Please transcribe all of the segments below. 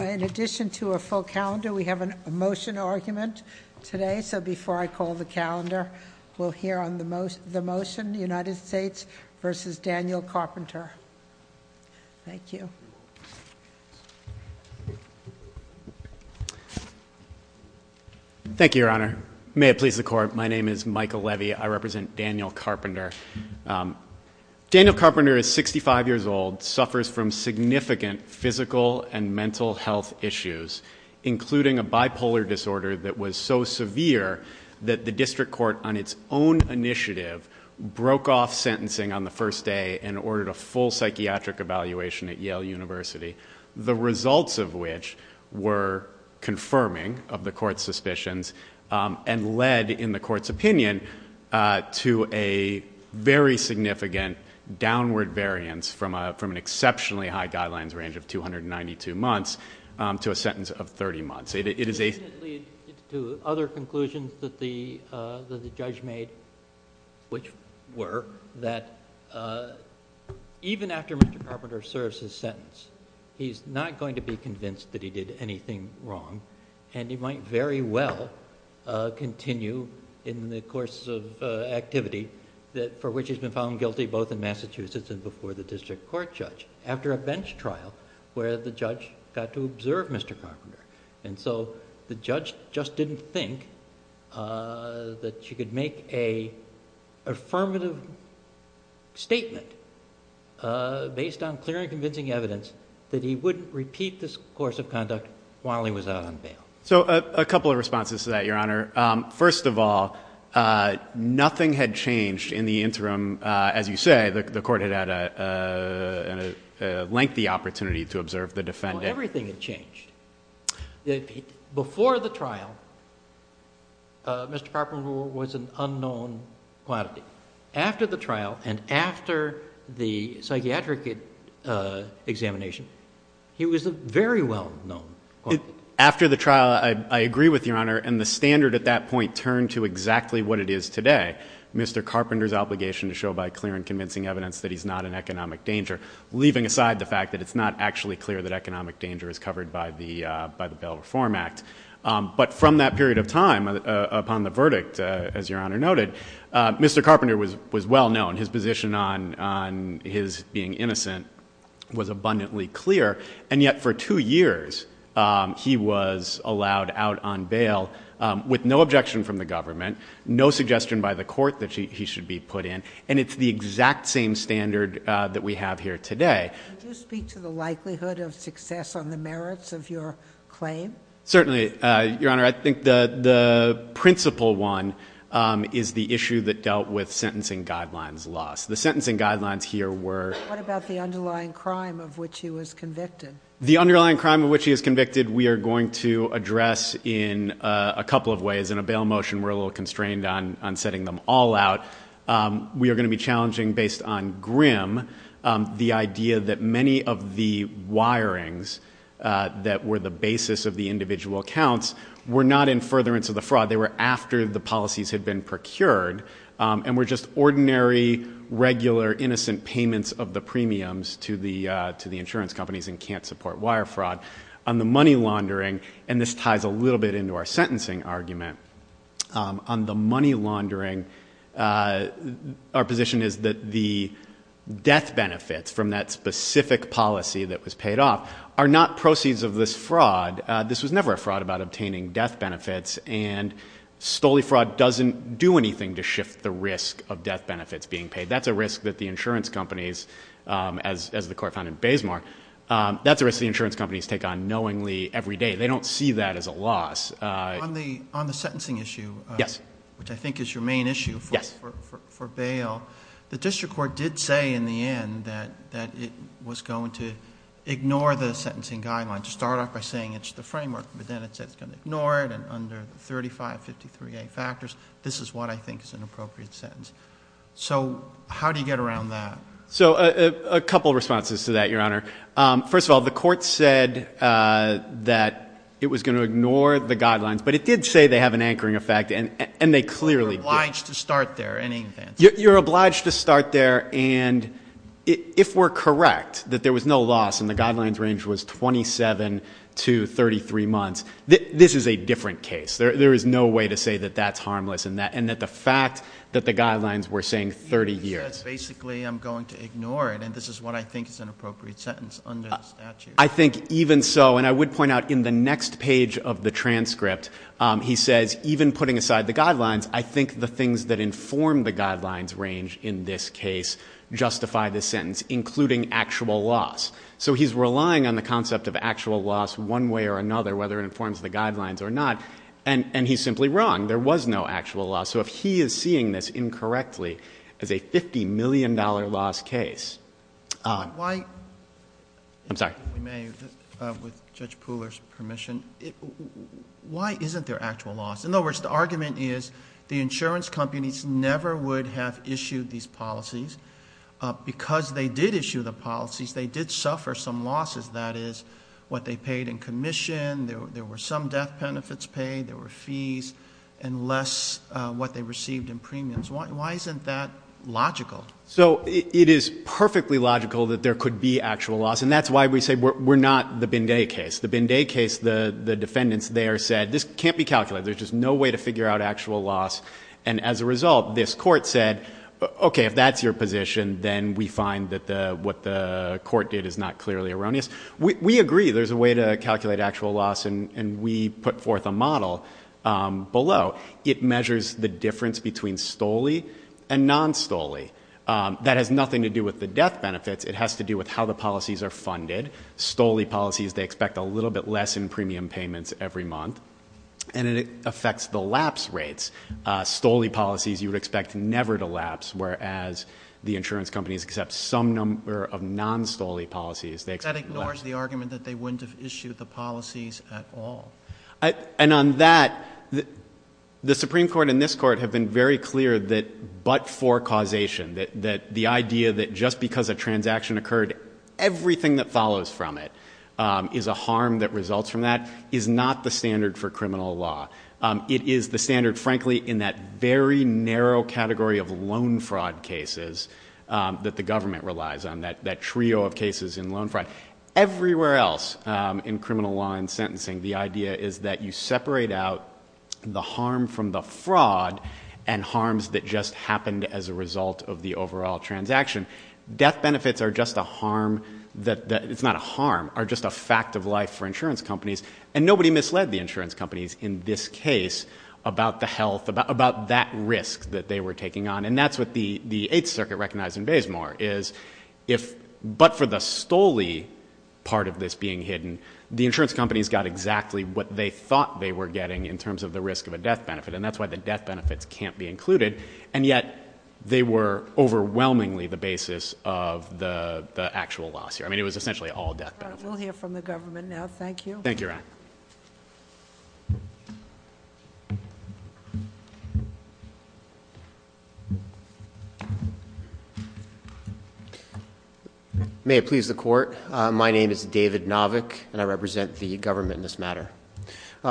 In addition to a full calendar, we have a motion argument today, so before I call the calendar, we'll hear on the motion, United States v. Daniel Carpenter. Thank you. Thank you, Your Honor. May it please the Court, my name is Michael Levy, I represent Daniel Carpenter. Daniel Carpenter is 65 years old, suffers from significant physical and mental health issues, including a bipolar disorder that was so severe that the District Court, on its own initiative, broke off sentencing on the first day and ordered a full psychiatric evaluation at Yale University. The results of which were confirming of the Court's suspicions and led, in the Court's opinion, to a very significant downward variance from an exceptionally high guidelines range of 292 months to a sentence of 30 months. Does this lead to other conclusions that the judge made, which were that even after Mr. Carpenter serves his sentence, he's not going to be convinced that he did anything wrong, and he might very well continue in the course of activity for which he's been found guilty both in Massachusetts and before the District Court judge, after a bench trial where the judge got to observe Mr. Carpenter. And so the judge just didn't think that you could make an affirmative statement based on clear and convincing evidence that he wouldn't repeat this course of conduct while he was out on bail. So a couple of responses to that, Your Honor. First of all, nothing had changed in the interim, as you say, the Court had had a lengthy opportunity to observe the defendant. Well, everything had changed. Before the trial, Mr. Carpenter was an unknown quantity. After the trial and after the psychiatric examination, he was a very well-known quantity. After the trial, I agree with Your Honor, and the standard at that point turned to exactly what it is today, Mr. Carpenter's obligation to show by clear and convincing evidence that he's not an economic danger, leaving aside the fact that it's not actually clear that economic danger is covered by the Bail Reform Act. But from that period of time upon the verdict, as Your Honor noted, Mr. Carpenter was well-known. His position on his being innocent was abundantly clear. And yet for two years, he was allowed out on bail with no objection from the government, no suggestion by the Court that he should be put in, and it's the exact same standard that we have here today. Could you speak to the likelihood of success on the merits of your claim? Certainly, Your Honor. I think the principal one is the issue that dealt with sentencing guidelines loss. The sentencing guidelines here were— What about the underlying crime of which he was convicted? The underlying crime of which he was convicted we are going to address in a couple of ways. In a bail motion, we're a little constrained on setting them all out. We are going to be challenging, based on Grimm, the idea that many of the wirings that were the basis of the individual accounts were not in furtherance of the fraud. They were after the policies had been procured and were just ordinary, regular, innocent payments of the premiums to the insurance companies and can't support wire fraud. On the money laundering—and this ties a little bit into our sentencing argument—on the money laundering, our position is that the death benefits from that specific policy that was paid off are not proceeds of this fraud. This was never a fraud about obtaining death benefits, and stoley fraud doesn't do anything to shift the risk of death benefits being paid. That's a risk that the insurance companies, as the Court found in Bazemore, that's a risk the insurance companies take on knowingly every day. They don't see that as a loss. On the sentencing issue, which I think is your main issue for bail, the district court did say in the end that it was going to ignore the sentencing guidelines. It started off by saying it's the framework, but then it said it's going to ignore it, and under the 3553A factors, this is what I think is an appropriate sentence. So how do you get around that? So a couple of responses to that, Your Honor. First of all, the Court said that it was going to ignore the guidelines, but it did say they have an anchoring effect, and they clearly do. You're obliged to start there, in any event. You're obliged to start there, and if we're correct that there was no loss and the guidelines range was 27 to 33 months, this is a different case. There is no way to say that that's harmless and that the fact that the guidelines were saying 30 years. Basically, I'm going to ignore it, and this is what I think is an appropriate sentence under the statute. I think even so, and I would point out in the next page of the transcript, he says even putting aside the guidelines, I think the things that inform the guidelines range in this case justify this sentence, including actual loss. So he's relying on the concept of actual loss one way or another, whether it informs the guidelines or not, and he's simply wrong. There was no actual loss, so if he is seeing this incorrectly as a $50 million loss case. I'm sorry. If we may, with Judge Pooler's permission, why isn't there actual loss? In other words, the argument is the insurance companies never would have issued these policies. Because they did issue the policies, they did suffer some losses. That is what they paid in commission. There were some death benefits paid. There were fees and less what they received in premiums. Why isn't that logical? So it is perfectly logical that there could be actual loss, and that's why we say we're not the Binday case. The Binday case, the defendants there said this can't be calculated. There's just no way to figure out actual loss, and as a result, this court said, okay, if that's your position, then we find that what the court did is not clearly erroneous. We agree there's a way to calculate actual loss, and we put forth a model below. It measures the difference between STOLI and non-STOLI. That has nothing to do with the death benefits. It has to do with how the policies are funded. STOLI policies, they expect a little bit less in premium payments every month, and it affects the lapse rates. STOLI policies you would expect never to lapse, whereas the insurance companies accept some number of non-STOLI policies. That ignores the argument that they wouldn't have issued the policies at all. And on that, the Supreme Court and this court have been very clear that but for causation, that the idea that just because a transaction occurred, everything that follows from it is a harm that results from that, is not the standard for criminal law. It is the standard, frankly, in that very narrow category of loan fraud cases that the government relies on, that trio of cases in loan fraud. Everywhere else in criminal law and sentencing, the idea is that you separate out the harm from the fraud and harms that just happened as a result of the overall transaction. Death benefits are just a harm that, it's not a harm, are just a fact of life for insurance companies, and nobody misled the insurance companies in this case about the health, about that risk that they were taking on. And that's what the Eighth Circuit recognized in Bazemore, is if, but for the STOLI part of this being hidden, the insurance companies got exactly what they thought they were getting in terms of the risk of a death benefit, and that's why the death benefits can't be included. And yet, they were overwhelmingly the basis of the actual loss here. I mean, it was essentially all death benefits. We'll hear from the government now. Thank you. Thank you, Your Honor. May it please the Court. My name is David Novick, and I represent the government in this matter.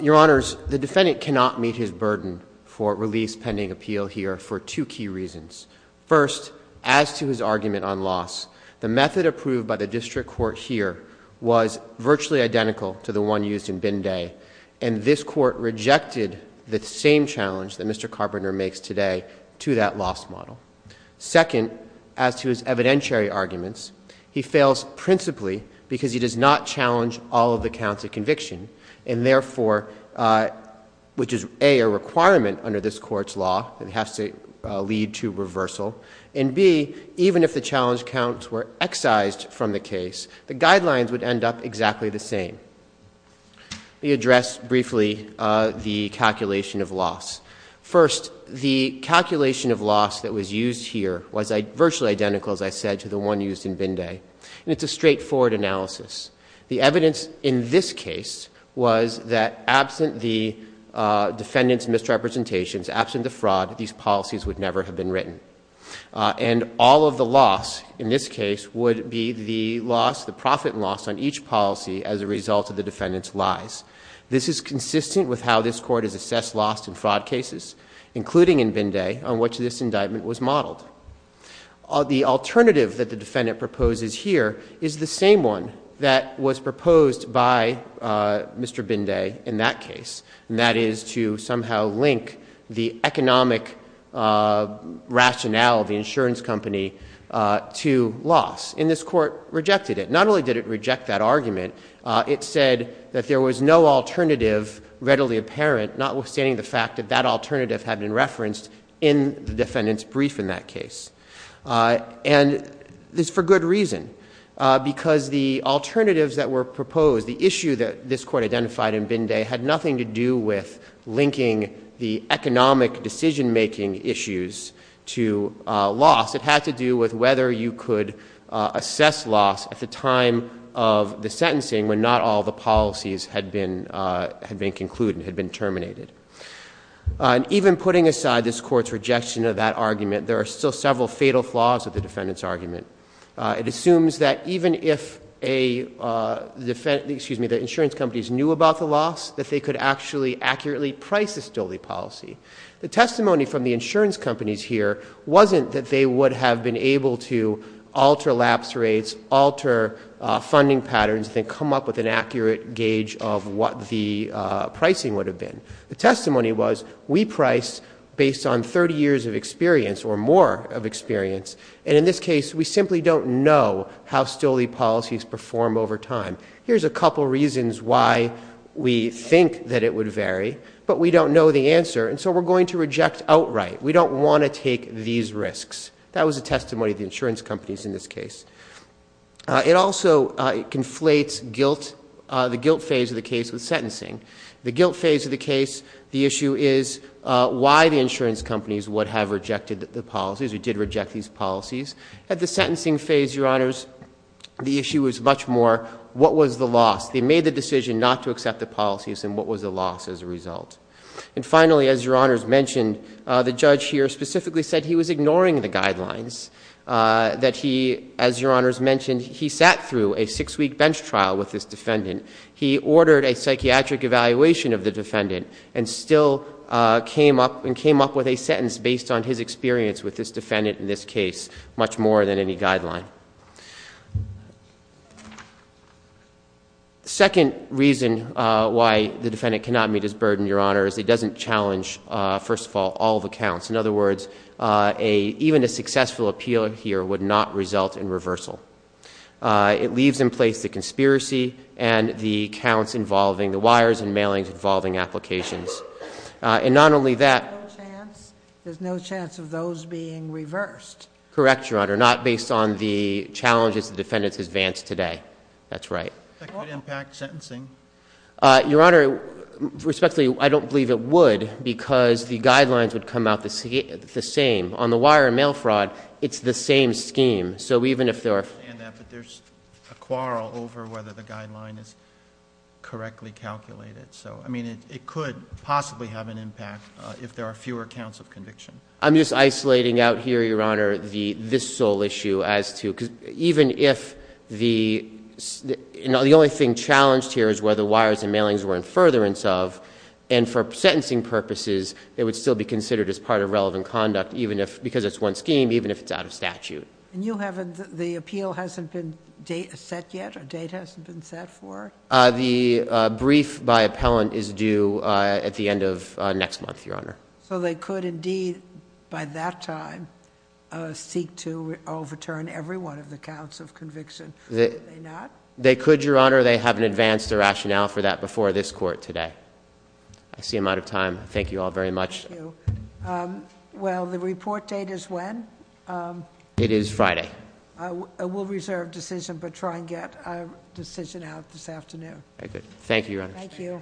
Your Honors, the defendant cannot meet his burden for release pending appeal here for two key reasons. First, as to his argument on loss, the method approved by the district court here was virtually identical to the one used in Binday, and this court rejected the same challenge that Mr. Carpenter makes today to that loss model. Second, as to his evidentiary arguments, he fails principally because he does not challenge all of the counts of conviction, and therefore, which is, A, a requirement under this court's law that has to lead to reversal, and, B, even if the challenge counts were excised from the case, the guidelines would end up exactly the same. Let me address briefly the calculation of loss. First, the calculation of loss that was used here was virtually identical, as I said, to the one used in Binday, and it's a straightforward analysis. The evidence in this case was that absent the defendant's misrepresentations, absent the fraud, these policies would never have been written. And all of the loss in this case would be the loss, the profit loss on each policy as a result of the defendant's lies. This is consistent with how this Court has assessed loss in fraud cases, including in Binday, on which this indictment was modeled. The alternative that the defendant proposes here is the same one that was proposed by Mr. Binday in that case, and that is to somehow link the economic rationale of the insurance company to loss. And this Court rejected it. Not only did it reject that argument, it said that there was no alternative readily apparent, notwithstanding the fact that that alternative had been referenced in the defendant's brief in that case. And it's for good reason, because the alternatives that were proposed, the issue that this Court identified in Binday, had nothing to do with linking the economic decision-making issues to loss. It had to do with whether you could assess loss at the time of the sentencing when not all the policies had been concluded, had been terminated. And even putting aside this Court's rejection of that argument, there are still several fatal flaws of the defendant's argument. It assumes that even if the insurance companies knew about the loss, that they could actually accurately price the stoley policy. The testimony from the insurance companies here wasn't that they would have been able to alter lapse rates, alter funding patterns, and then come up with an accurate gauge of what the pricing would have been. The testimony was, we price based on 30 years of experience or more of experience, and in this case, we simply don't know how stoley policies perform over time. Here's a couple reasons why we think that it would vary, but we don't know the answer, and so we're going to reject outright. We don't want to take these risks. That was the testimony of the insurance companies in this case. It also conflates the guilt phase of the case with sentencing. The guilt phase of the case, the issue is why the insurance companies would have rejected the policies, or did reject these policies. At the sentencing phase, Your Honors, the issue is much more what was the loss. They made the decision not to accept the policies, and what was the loss as a result. And finally, as Your Honors mentioned, the judge here specifically said he was ignoring the guidelines, that he, as Your Honors mentioned, he sat through a six-week bench trial with this defendant. He ordered a psychiatric evaluation of the defendant, and still came up with a sentence based on his experience with this defendant in this case, much more than any guideline. The second reason why the defendant cannot meet his burden, Your Honors, it doesn't challenge, first of all, all the counts. In other words, even a successful appeal here would not result in reversal. It leaves in place the conspiracy and the counts involving the wires and mailings involving applications. And not only that. There's no chance of those being reversed. Correct, Your Honor. Not based on the challenges the defendants advanced today. That's right. That could impact sentencing. Your Honor, respectfully, I don't believe it would, because the guidelines would come out the same. On the wire and mail fraud, it's the same scheme. So even if there are- I understand that, but there's a quarrel over whether the guideline is correctly calculated. So, I mean, it could possibly have an impact if there are fewer counts of conviction. I'm just isolating out here, Your Honor, this sole issue as to- because even if the- the only thing challenged here is whether wires and mailings were in furtherance of. And for sentencing purposes, it would still be considered as part of relevant conduct, even if- because it's one scheme, even if it's out of statute. And you haven't- the appeal hasn't been set yet? A date hasn't been set for it? The brief by appellant is due at the end of next month, Your Honor. So they could indeed, by that time, seek to overturn every one of the counts of conviction. Could they not? They could, Your Honor. They haven't advanced the rationale for that before this court today. I see I'm out of time. Thank you all very much. Thank you. Well, the report date is when? It is Friday. I will reserve decision, but try and get a decision out this afternoon. Very good. Thank you, Your Honor. Thank you.